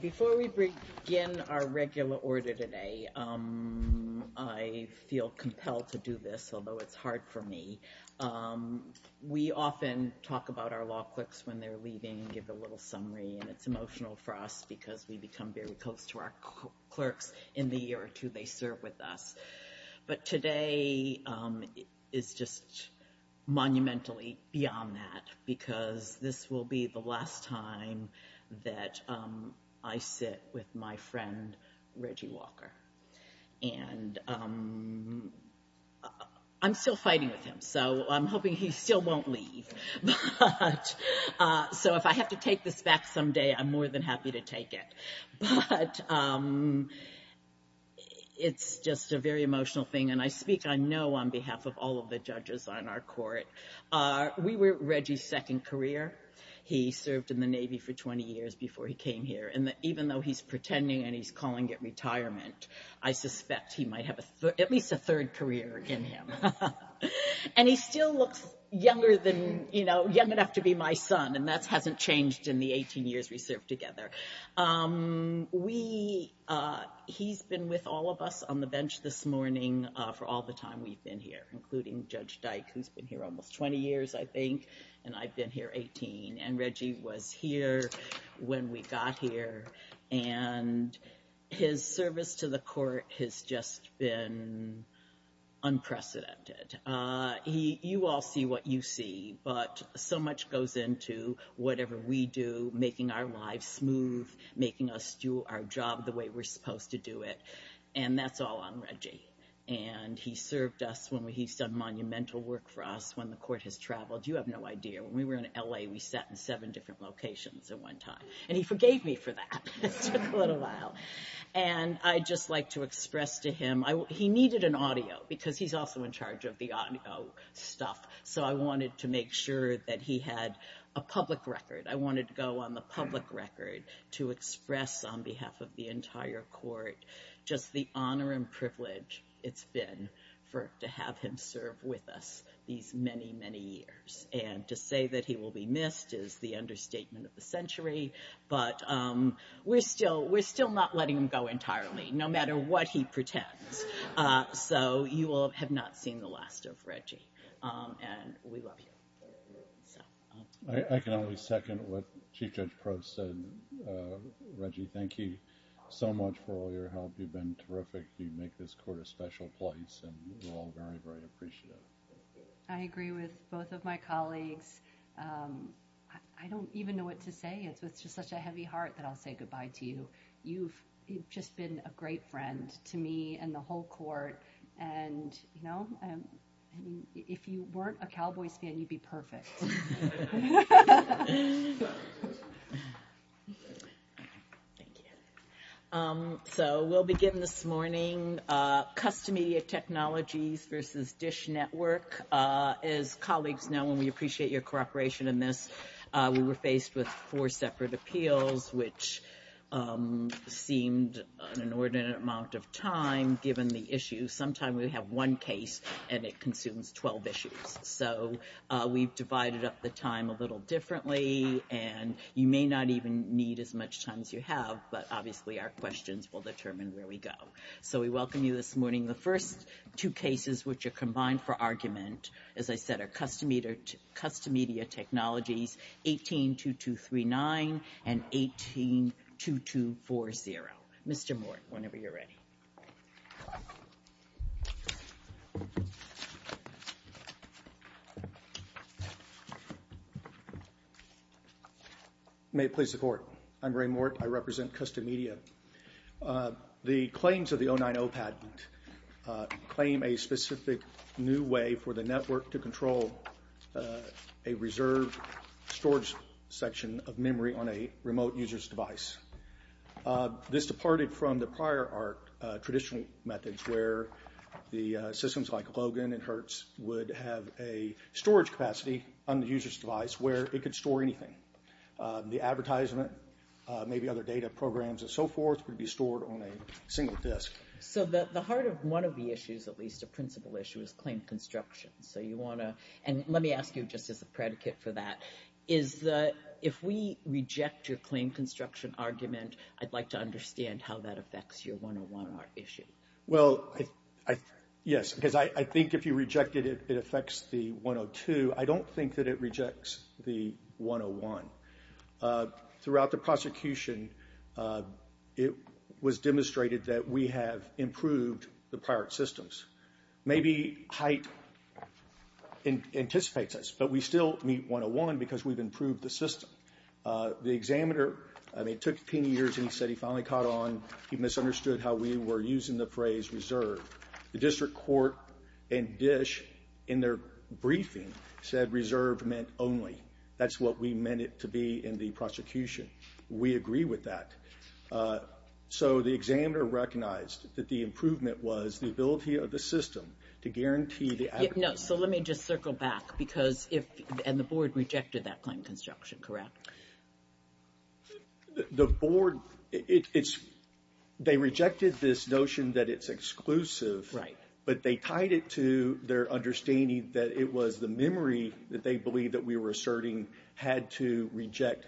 Before we begin our regular order today, I feel compelled to do this, although it's hard for me. We often talk about our law clerks when they're leaving and give a little summary and it's emotional for us because we become very close to our clerks in the year or two they serve with us. But today is just monumentally beyond that because this will be the last time that I sit with my friend Reggie Walker and I'm still fighting with him so I'm hoping he still won't leave. So if I have to take this back someday, I'm more than happy to take it. But it's just a very emotional thing and I speak I know on behalf of all of the judges on our court. We were Reggie's second career. He served in the Navy for 20 years before he came here and even though he's pretending and he's calling it retirement, I suspect he might have at least a third career in him. And he still looks younger than, you know, young enough to be my son and that hasn't changed in the 18 years we served together. He's been with all of us on the bench this morning for all the time we've been here including Judge Dyke who's been here almost 20 years I think and I've been here 18. And Reggie was here when we got here and his service to the court has just been unprecedented. You all see what you see but so much goes into whatever we do, making our lives smooth, making us do our job the way we're supposed to do it and that's all Reggie. And he served us when he's done monumental work for us when the court has traveled. You have no idea when we were in LA we sat in seven different locations at one time and he forgave me for that. It took a little while. And I just like to express to him he needed an audio because he's also in charge of the audio stuff so I wanted to make sure that he had a public record. I wanted it's been for to have him serve with us these many many years and to say that he will be missed is the understatement of the century but we're still not letting him go entirely no matter what he pretends. So you will have not seen the last of Reggie and we love you. I can only second what Chief Judge Crowe said. Reggie thank you so much for all your help. You've been terrific. You make this court a special place and we're all very very appreciative. I agree with both of my colleagues. I don't even know what to say. It's with just such a heavy heart that I'll say goodbye to you. You've just been a great friend to me and the whole court and you know I mean if you weren't a cowboy's fan you'd be perfect. So we'll begin this morning. Custom Media Technologies versus Dish Network. As colleagues know and we appreciate your cooperation in this we were faced with four separate appeals which seemed an inordinate amount of time given the issue. Sometime we have one case and it consumes 12 issues so we've divided up the time a little differently and you may not even need as much time as you have but obviously our questions will determine where we go. So we welcome you this morning. The first two cases which are combined for argument as I said are Custom Media Technologies 18-2239 and 18-2240. Mr. Mort whenever you're ready. May it please the court. I'm Ray Mort. I represent Custom Media. The claims of the 090 patent claim a specific new way for the network to control a reserved storage section of memory on a remote user's device. This departed from the prior art traditional methods where the systems like Logan and Hertz would have a storage capacity on the user's device where it could store anything. The advertisement maybe other data programs and so forth would be stored on a single disk. So the heart of one of the issues at least a principal issue is claim construction. So you want to and if we reject your claim construction argument I'd like to understand how that affects your 101 art issue. Well yes because I think if you reject it it affects the 102. I don't think that it rejects the 101. Throughout the prosecution it was demonstrated that we have improved the pirate systems. Maybe height anticipates us but we still meet 101 because we've improved the system. The examiner I mean it took 10 years and he said he finally caught on. He misunderstood how we were using the phrase reserve. The district court and dish in their briefing said reserve meant only. That's what we meant it to be in the prosecution. We agree with that. So the examiner recognized that the improvement was the ability of the system to guarantee that. No. So let me just correct. The board it's they rejected this notion that it's exclusive. Right. But they tied it to their understanding that it was the memory that they believed that we were asserting had to reject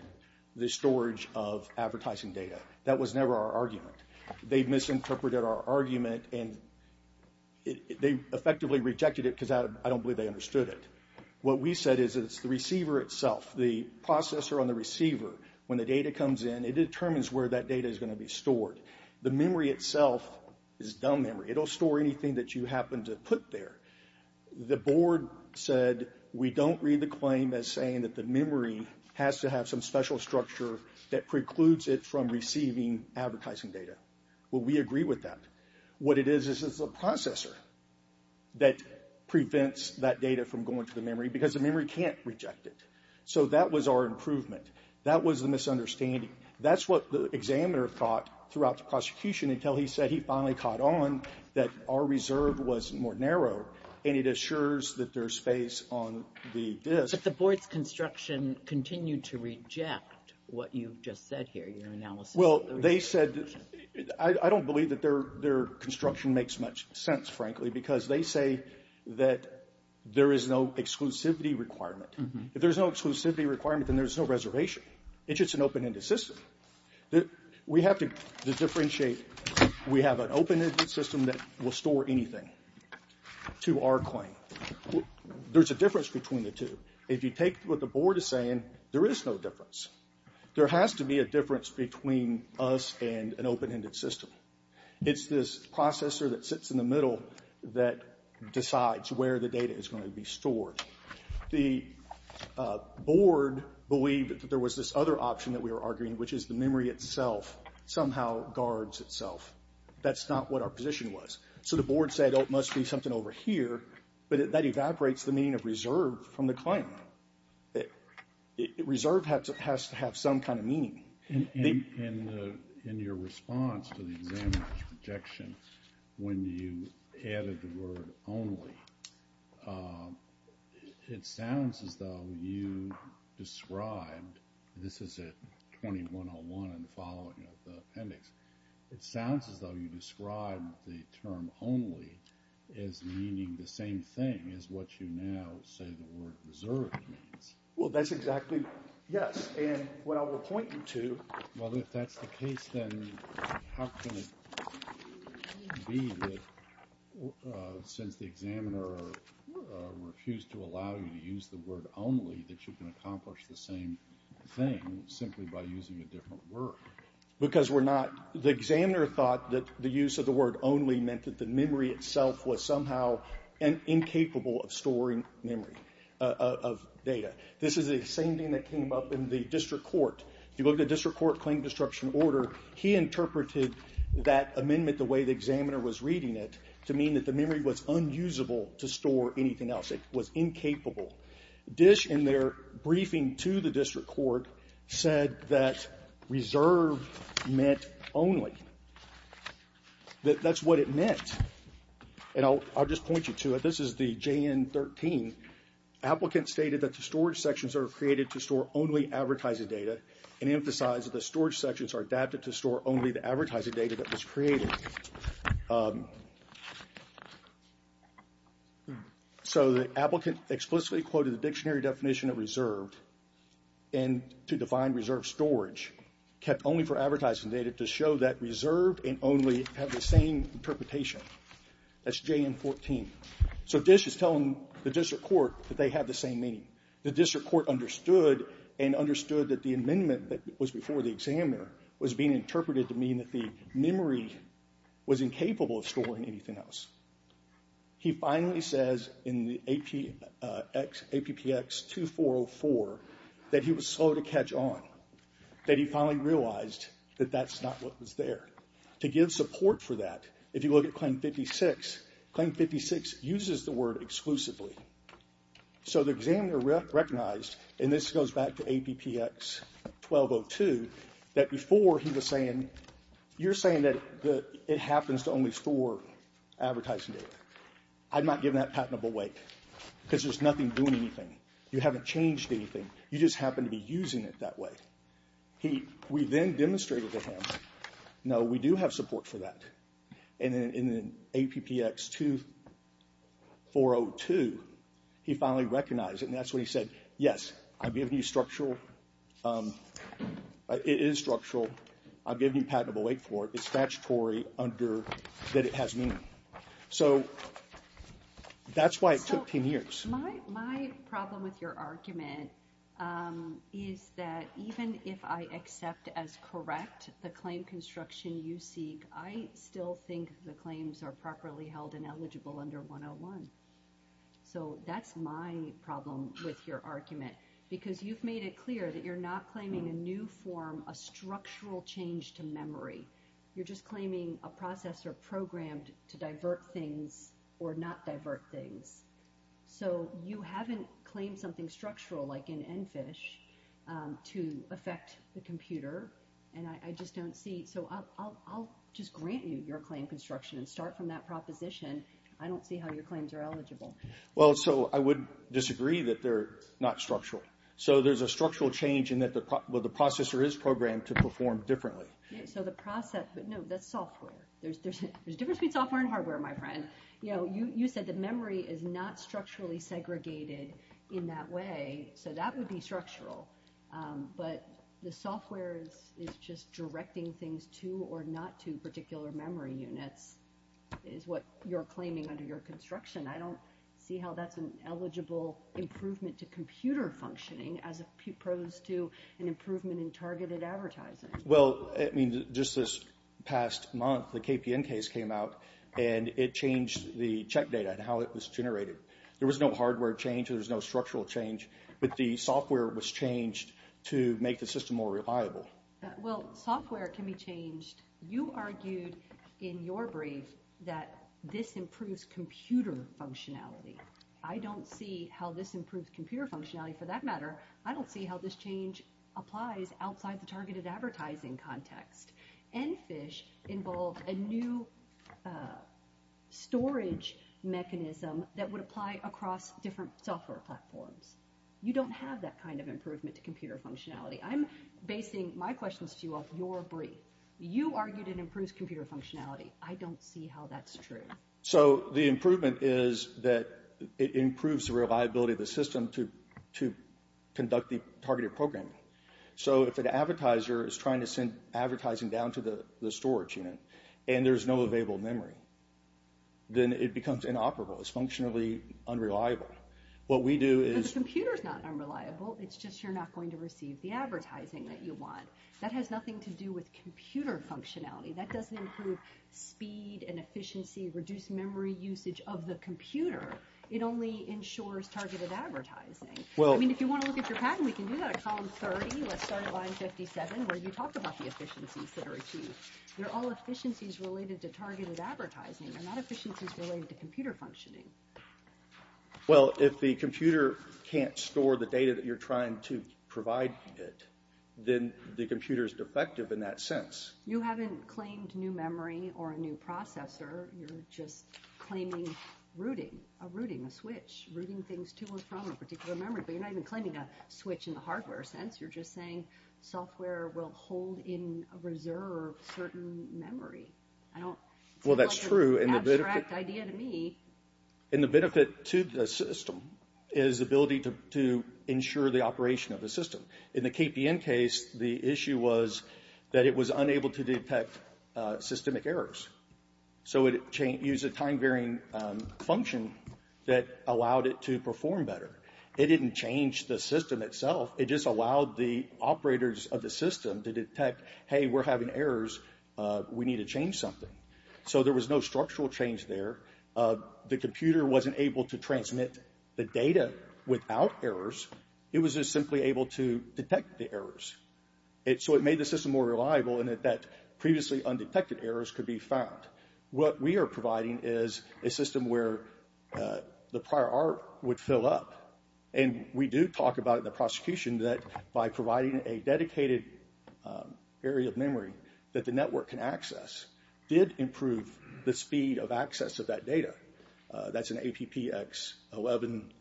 the storage of advertising data. That was never our argument. They misinterpreted our argument and they effectively rejected it because I don't believe they understood it. What we said is it's the receiver itself the processor on the receiver. When the data comes in it determines where that data is going to be stored. The memory itself is dumb memory. It'll store anything that you happen to put there. The board said we don't read the claim as saying that the memory has to have some special structure that precludes it from receiving advertising data. Well we agree with that. What it is is a processor that prevents that data from going to the memory because the memory can't reject it. So that was our improvement. That was the misunderstanding. That's what the examiner thought throughout the prosecution until he said he finally caught on that our reserve was more narrow and it assures that there's space on the disk. But the board's construction continued to reject what you just said here your analysis. Well they said I don't believe that their construction makes much sense frankly because they say that there is no exclusivity requirement. If there's no exclusivity requirement then there's no reservation. It's just an open-ended system. We have to differentiate. We have an open-ended system that will store anything to our claim. There's a difference between the two. If you us and an open-ended system. It's this processor that sits in the middle that decides where the data is going to be stored. The board believed that there was this other option that we were arguing which is the memory itself somehow guards itself. That's not what our position was. So the board said oh it must be something over here but that evaporates the meaning of reserve from the meaning. In your response to the examiners objection when you added the word only it sounds as though you described this is at 2101 and the following of the appendix it sounds as though you described the term only as meaning the same thing as what you now say the word reserve means. Well that's exactly yes and what I will point you to. Well if that's the case then how can it be that since the examiner refused to allow you to use the word only that you can accomplish the same thing simply by using a different word. Because we're not the examiner thought that the use of the word only meant that the memory itself was somehow incapable of storing memory of data. This is the same thing that came up in the district court. If you look at the district court claim disruption order he interpreted that amendment the way the examiner was reading it to mean that the memory was unusable to store anything else. It was incapable. Dish in their briefing to the district court said that reserve meant only. That that's what it meant and I'll just point you to it. This is the JN 13 applicant stated that the storage sections are created to store only advertising data and emphasize that the storage sections are adapted to store only the advertising data that was created. So the applicant explicitly quoted the dictionary definition of reserved and to define reserved storage kept only for advertising data to show that reserved and only have the same interpretation. That's JN 14. So Dish is telling the district court that they have the same meaning. The district court understood and understood that the amendment that was before the examiner was being interpreted to mean that the memory was incapable of storing anything else. He finally says in the APX 2404 that he was slow to catch on. That he finally realized that that's not what was there. To give support for that if you look at claim 56, claim 56 uses the word exclusively. So the examiner recognized and this goes back to advertising data. I'm not giving that patentable weight because there's nothing doing anything. You haven't changed anything. You just happen to be using it that way. We then demonstrated to him no we do have support for that and then in the APX 2402 he finally recognized it and that's when he said yes I've given you structural. It is structural. I've given you patentable weight for it. It's statutory under that it has meaning. So that's why it took 10 years. My problem with your argument is that even if I accept as correct the claim construction you seek, I still think the claims are properly held and eligible under 101. So that's my problem with your argument because you've made it clear that you're not claiming a new form, a structural change to memory. You're just claiming a processor programmed to divert things or not divert things. So you haven't claimed something structural like in EnFISH to affect the computer and I just don't see. So I'll just grant you your claim construction and start from that proposition. I don't see how your claims are eligible. Well so I would disagree that they're not structural. So there's a structural change in that the processor is programmed to perform differently. So the process but no that's software. There's a difference between software and hardware my friend. You know you said the memory is not structurally segregated in that way so that would be structural but the software is just directing things to or not to particular memory units is what you're claiming under your construction. I don't see how that's an eligible improvement to computer functioning as a pros to an improvement in targeted advertising. Well I mean just this past month the KPN case came out and it changed the check data and how it was generated. There was no hardware change. There's no structural change but the software was changed to make the system more reliable. Well software can be changed. You argued in your brief that this improves computer functionality. I don't see how this improves computer functionality for that matter. I don't see how this change applies outside the targeted advertising context. NFISH involved a new storage mechanism that would apply across different software platforms. You don't have that kind of improvement to computer functionality. I'm basing my questions to you off your brief. You argued it improves computer functionality. I don't see how that's true. So the improvement is that it improves the reliability of the system to conduct the targeted programming. So if an advertiser is trying to send advertising down to the storage unit and there's no available memory then it becomes inoperable. It's functionally unreliable. What we do is... The computer's not unreliable. It's just you're not going to receive the advertising that you want. That has nothing to do with computer functionality. That doesn't improve speed and efficiency, reduce memory usage of the computer. It only ensures targeted advertising. Well I mean if you want to look at your patent we can do that at column 30. Let's start at line 57 where you talked about the efficiencies that are achieved. They're all efficiencies related to targeted advertising. They're not efficiencies related to computer functioning. Well if the computer can't store the data that you're trying to provide it then the computer is defective in that sense. You haven't claimed new memory or a new processor. You're just claiming routing. A routing. A switch. Routing things to and from a particular memory. But you're not even claiming a switch in the hardware sense. You're just saying software will hold in a reserve certain memory. I don't... Well that's true. It's an abstract idea to me. And the benefit to the system is the ability to ensure the operation of the system. In the KPN case the issue was that it was unable to detect systemic errors. So it used a time varying function that allowed it to perform better. It didn't change the system itself. It just allowed the operators of the system to detect, hey we're having errors. We need to change something. So there was no structural change there. The computer wasn't able to transmit the data without errors. It was just simply able to detect the errors. So it made the system more reliable in that previously undetected errors could be found. What we are providing is a system where the prior art would fill up. And we do talk about in the prosecution that by providing a dedicated area of memory that the network can access did improve the speed of access of that data. That's an APPX 11.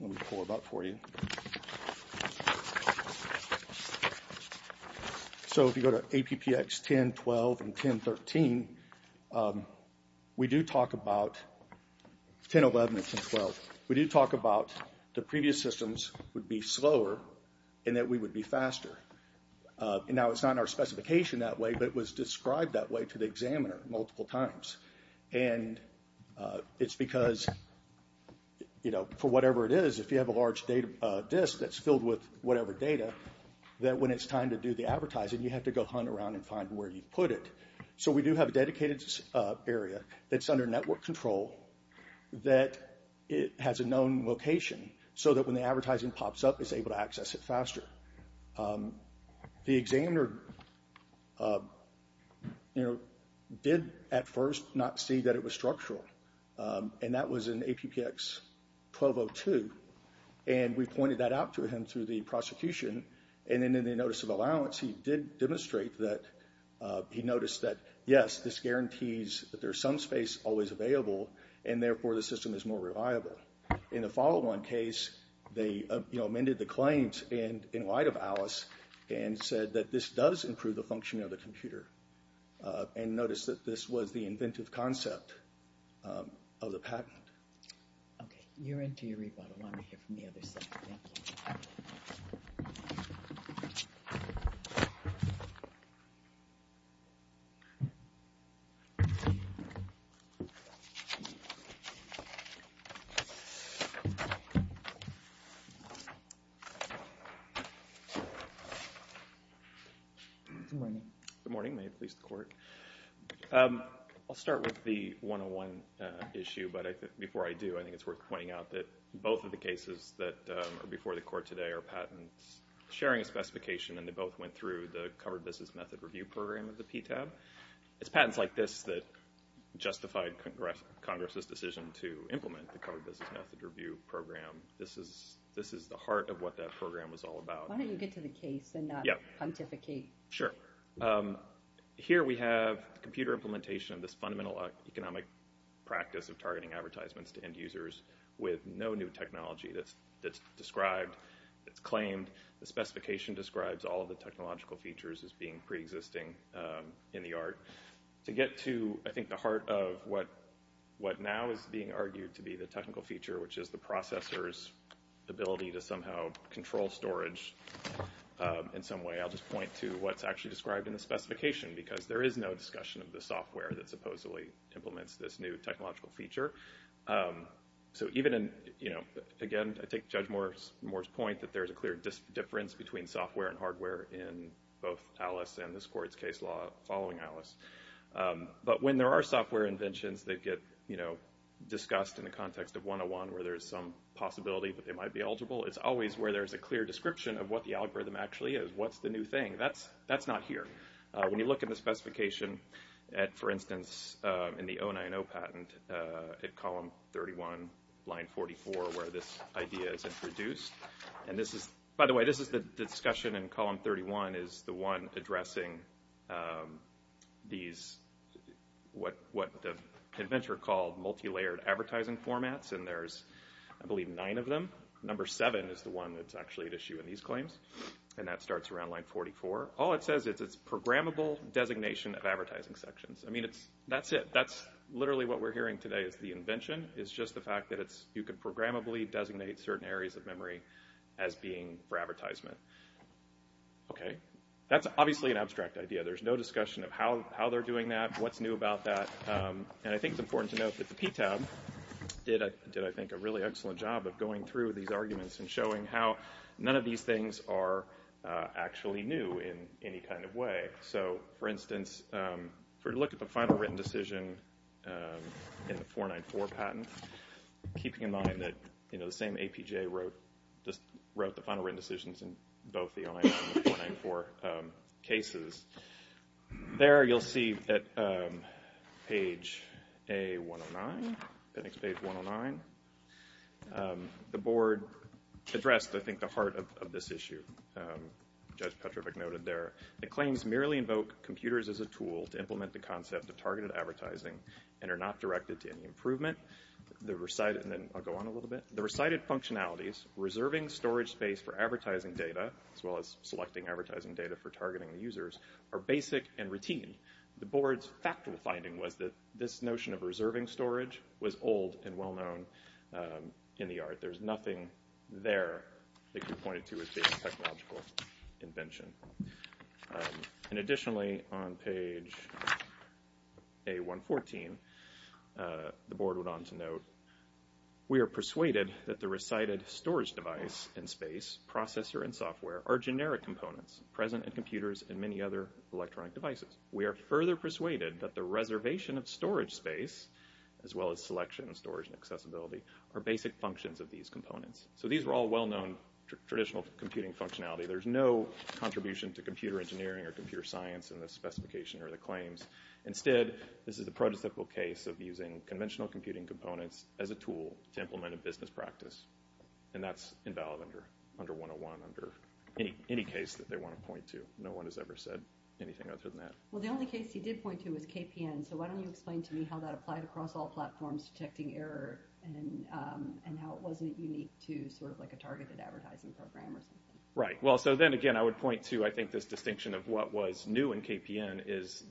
Let me pull it up for you. So if you go to APPX 10, 12, and 10, 13, we do talk about... 10, 11, and 10, 12. We do talk about the previous systems would be slower and that we would be faster. Now it's not in our specification that way, but it was described that way to the examiner multiple times. And it's because for whatever it is, if you have a large disk that's filled with whatever data, that when it's time to do the advertising, you have to go hunt around and find where you put it. So we do have a dedicated area that's under network control that has a known location so that when the advertising pops up, it's able to access it faster. The examiner did at first not see that it was structural. And that was in APPX 1202. And we pointed that out to him through the prosecution. And then in the notice of allowance, he did demonstrate that he noticed that, yes, this guarantees that there's some always available, and therefore the system is more reliable. In the follow-on case, they amended the claims in light of Alice and said that this does improve the functioning of the computer. And notice that this was the inventive concept of the patent. Okay. You're into your rebuttal. I want to hear from the other side. Thank you. Good morning. Good morning. May it please the court. I'll start with the 101 issue. But before I do, I think it's worth pointing out that both of the cases that are before the court today are patents sharing a specification. And they both went through the covered business method review program of the PTAB. It's patents like this that justified Congress's decision to implement the covered business method review program. This is the heart of what that program was all about. Why don't you get to the case and not pontificate? Sure. Here we have computer implementation of this fundamental economic practice of targeting advertisements to end users with no new technology that's described, that's claimed. The specification describes all of the technological features as being preexisting in the art. To get to, I think, the heart of what now is being argued to be the technical feature, which is the processor's ability to somehow control storage in some way, I'll just point to what's actually described in the specification. Because there is no discussion of the software that supposedly implements this new technological feature. So even in, you know, again, I take Judge Moore's point that there's a clear difference between software and hardware in both Alice and this court's case law following Alice. But when there are software inventions that get, you know, discussed in the context of 101 where there's some possibility that they might be eligible, it's always where there's a clear description of what the algorithm actually is. What's the new thing? That's not here. When you look at the specification at, for instance, in the 090 patent at column 31, line 44, where this idea is introduced. And this is, by the way, this is the discussion in column 31 is the one addressing these, what the inventor called multi-layered advertising formats. And there's, I believe, nine of them. Number seven is the one that's actually an issue in these claims. And that starts around line 44. All it says is it's programmable designation of advertising sections. I mean, it's, that's it. That's literally what we're hearing today is the invention is just the fact that it's, you could programmably designate certain areas of memory as being for advertisement. Okay. That's obviously an abstract idea. There's no discussion of how they're doing that, what's new about that. And I think it's important to note that the PTAB did, I think, a really excellent job of going through these arguments and showing how none of these things are actually new in any kind of way. So, for instance, if we look at the final written decision in the 494 patent, keeping in mind that, you know, the same APJ wrote, just wrote the final written decisions in both the 099 and 494 cases. There you'll see at page A109, Phoenix page 109, the board addressed, I think, the heart of this issue. Judge Petrovich noted there, the claims merely invoke computers as a tool to implement the concept of targeted advertising and are not directed to any improvement. The recited, and then I'll go on a little bit, the recited functionalities, reserving storage space for advertising data, as well as selecting advertising data for targeting the users, are basic and routine. The board's factual finding was that this notion of reserving storage was old and well known in the art. There's nothing there that you pointed to as being a technological invention. And additionally, on page A114, the board went on to note, we are persuaded that the recited storage device in space, processor and software, are generic components present in computers and many other electronic devices. We are further persuaded that the reservation of storage space, as well as selection and storage and accessibility, are basic functions of these components. So these are all well-known traditional computing functionality. There's no contribution to computer engineering or computer science in the specification or the claims. Instead, this is the prototypical case of using conventional computing components as a tool to implement a business practice. And that's invalid under 101, under any case that they want to point to. No one has ever said anything other than that. Well, the only case he did point to was KPN. So why don't you explain to me how that applied across all platforms, detecting error, and how it wasn't unique to sort of like a targeted advertising program or something. Right. Well, so then again, I would point to, I think, this distinction of what was new in KPN is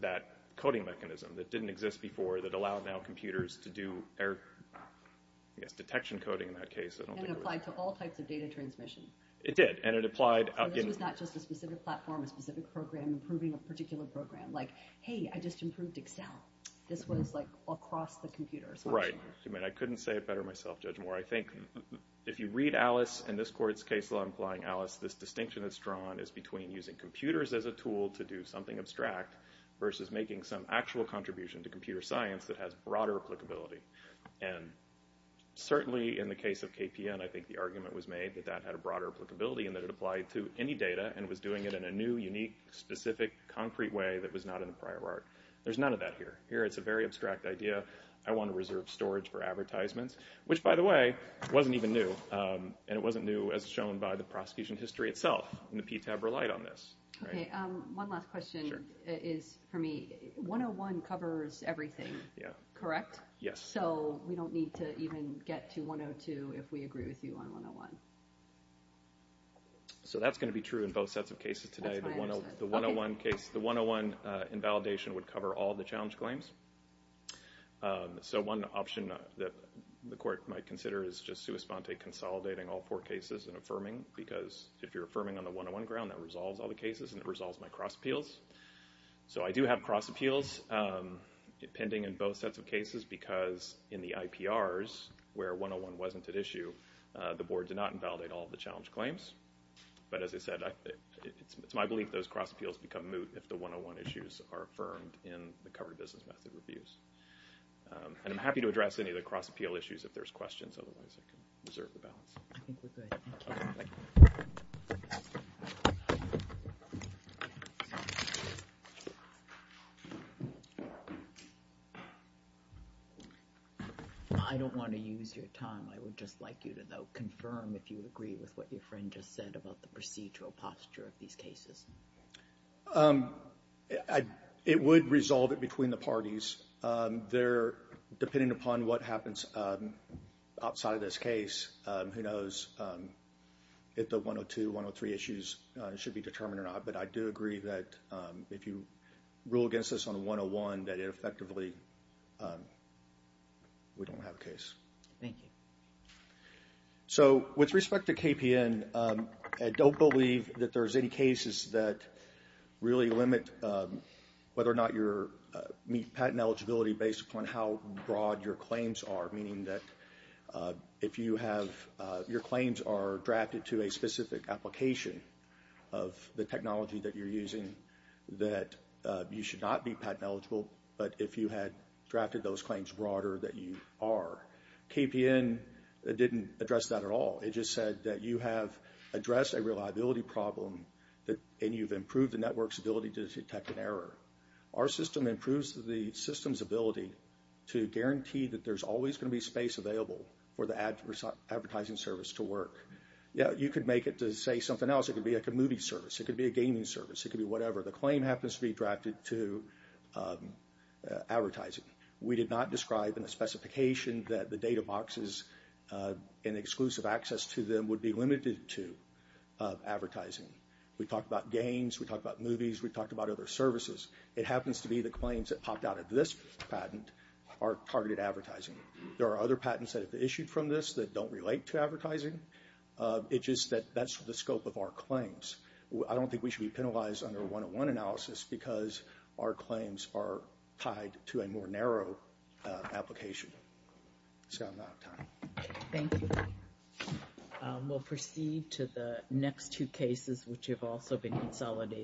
that coding mechanism that didn't exist before that allowed now computers to do error, I guess, detection coding in that case. It applied to all types of data transmission. It did, and it applied. So this was not just a specific platform, a specific program, improving a particular program. Like, hey, I just improved Excel. This was like across the computers. Right. I mean, I couldn't say it better myself, Judge Moore. I think if you read Alice and this court's case law implying Alice, this distinction that's drawn is between using computers as a tool to do something abstract versus making some actual contribution to computer science that has broader applicability. And certainly in the case of KPN, I think the argument was made that that had a broader applicability and that it applied to any data and was doing it in a new, unique, specific, concrete way that was not in the prior art. There's none of that here. Here, it's a very abstract idea. I want to reserve storage for advertisements, which, by the way, wasn't even new, and it wasn't new as shown by the prosecution history itself, and the PTAB relied on this. Okay. One last question is for me. 101 covers everything. Yeah. Correct? Yes. So we don't need to even get to 102 if we agree with you on 101. So that's going to be true in both sets of cases today. The 101 case, the 101 invalidation would cover all the challenge claims. So one option that the court might consider is just sua sponte consolidating all four cases and affirming because if you're affirming on the 101 ground, that resolves all the cases and it resolves my cross appeals. So I do have cross appeals pending in both sets of cases because in the IPRs, where 101 wasn't at issue, the board did invalidate all the challenge claims. But as I said, it's my belief those cross appeals become moot if the 101 issues are affirmed in the covered business method reviews. And I'm happy to address any of the cross appeal issues if there's questions. Otherwise, I can reserve the balance. I think we're good. Thank you. I don't want to use your time. I would just like you to confirm if you agree with what your friend just said about the procedural posture of these cases. It would resolve it between the parties. Depending upon what happens outside of this case, who knows if the 102, 103 issues should be determined or not. But I do agree that if you rule against us on 101, that effectively we don't have a case. Thank you. So with respect to KPN, I don't believe that there's any cases that really limit whether or not you meet patent eligibility based upon how broad your claims are. Meaning that if you have your claims are drafted to a specific application of the technology that you're using, that you should not be patent eligible. But if you had drafted those claims broader that you are. KPN didn't address that at all. It just said that you have addressed a reliability problem and you've improved the network's ability to detect an error. Our system improves the system's ability to guarantee that there's always going to be space available for the advertising service to work. You could make it to say something else. It could be like a movie service. It could be a gaming service. It could be whatever. The claim happens to be drafted to advertising. We did not describe in the specification that the data boxes and exclusive access to them would be limited to advertising. We talked about games. We talked about movies. We talked about other services. It happens to be the claims that popped out of this patent are targeted advertising. There are other patents that have issued from this that don't relate to advertising. It's just that that's the scope of our claims. I don't think we should be penalized under a 101 analysis because our application. Thank you. We'll proceed to the next two cases which have also been consolidated.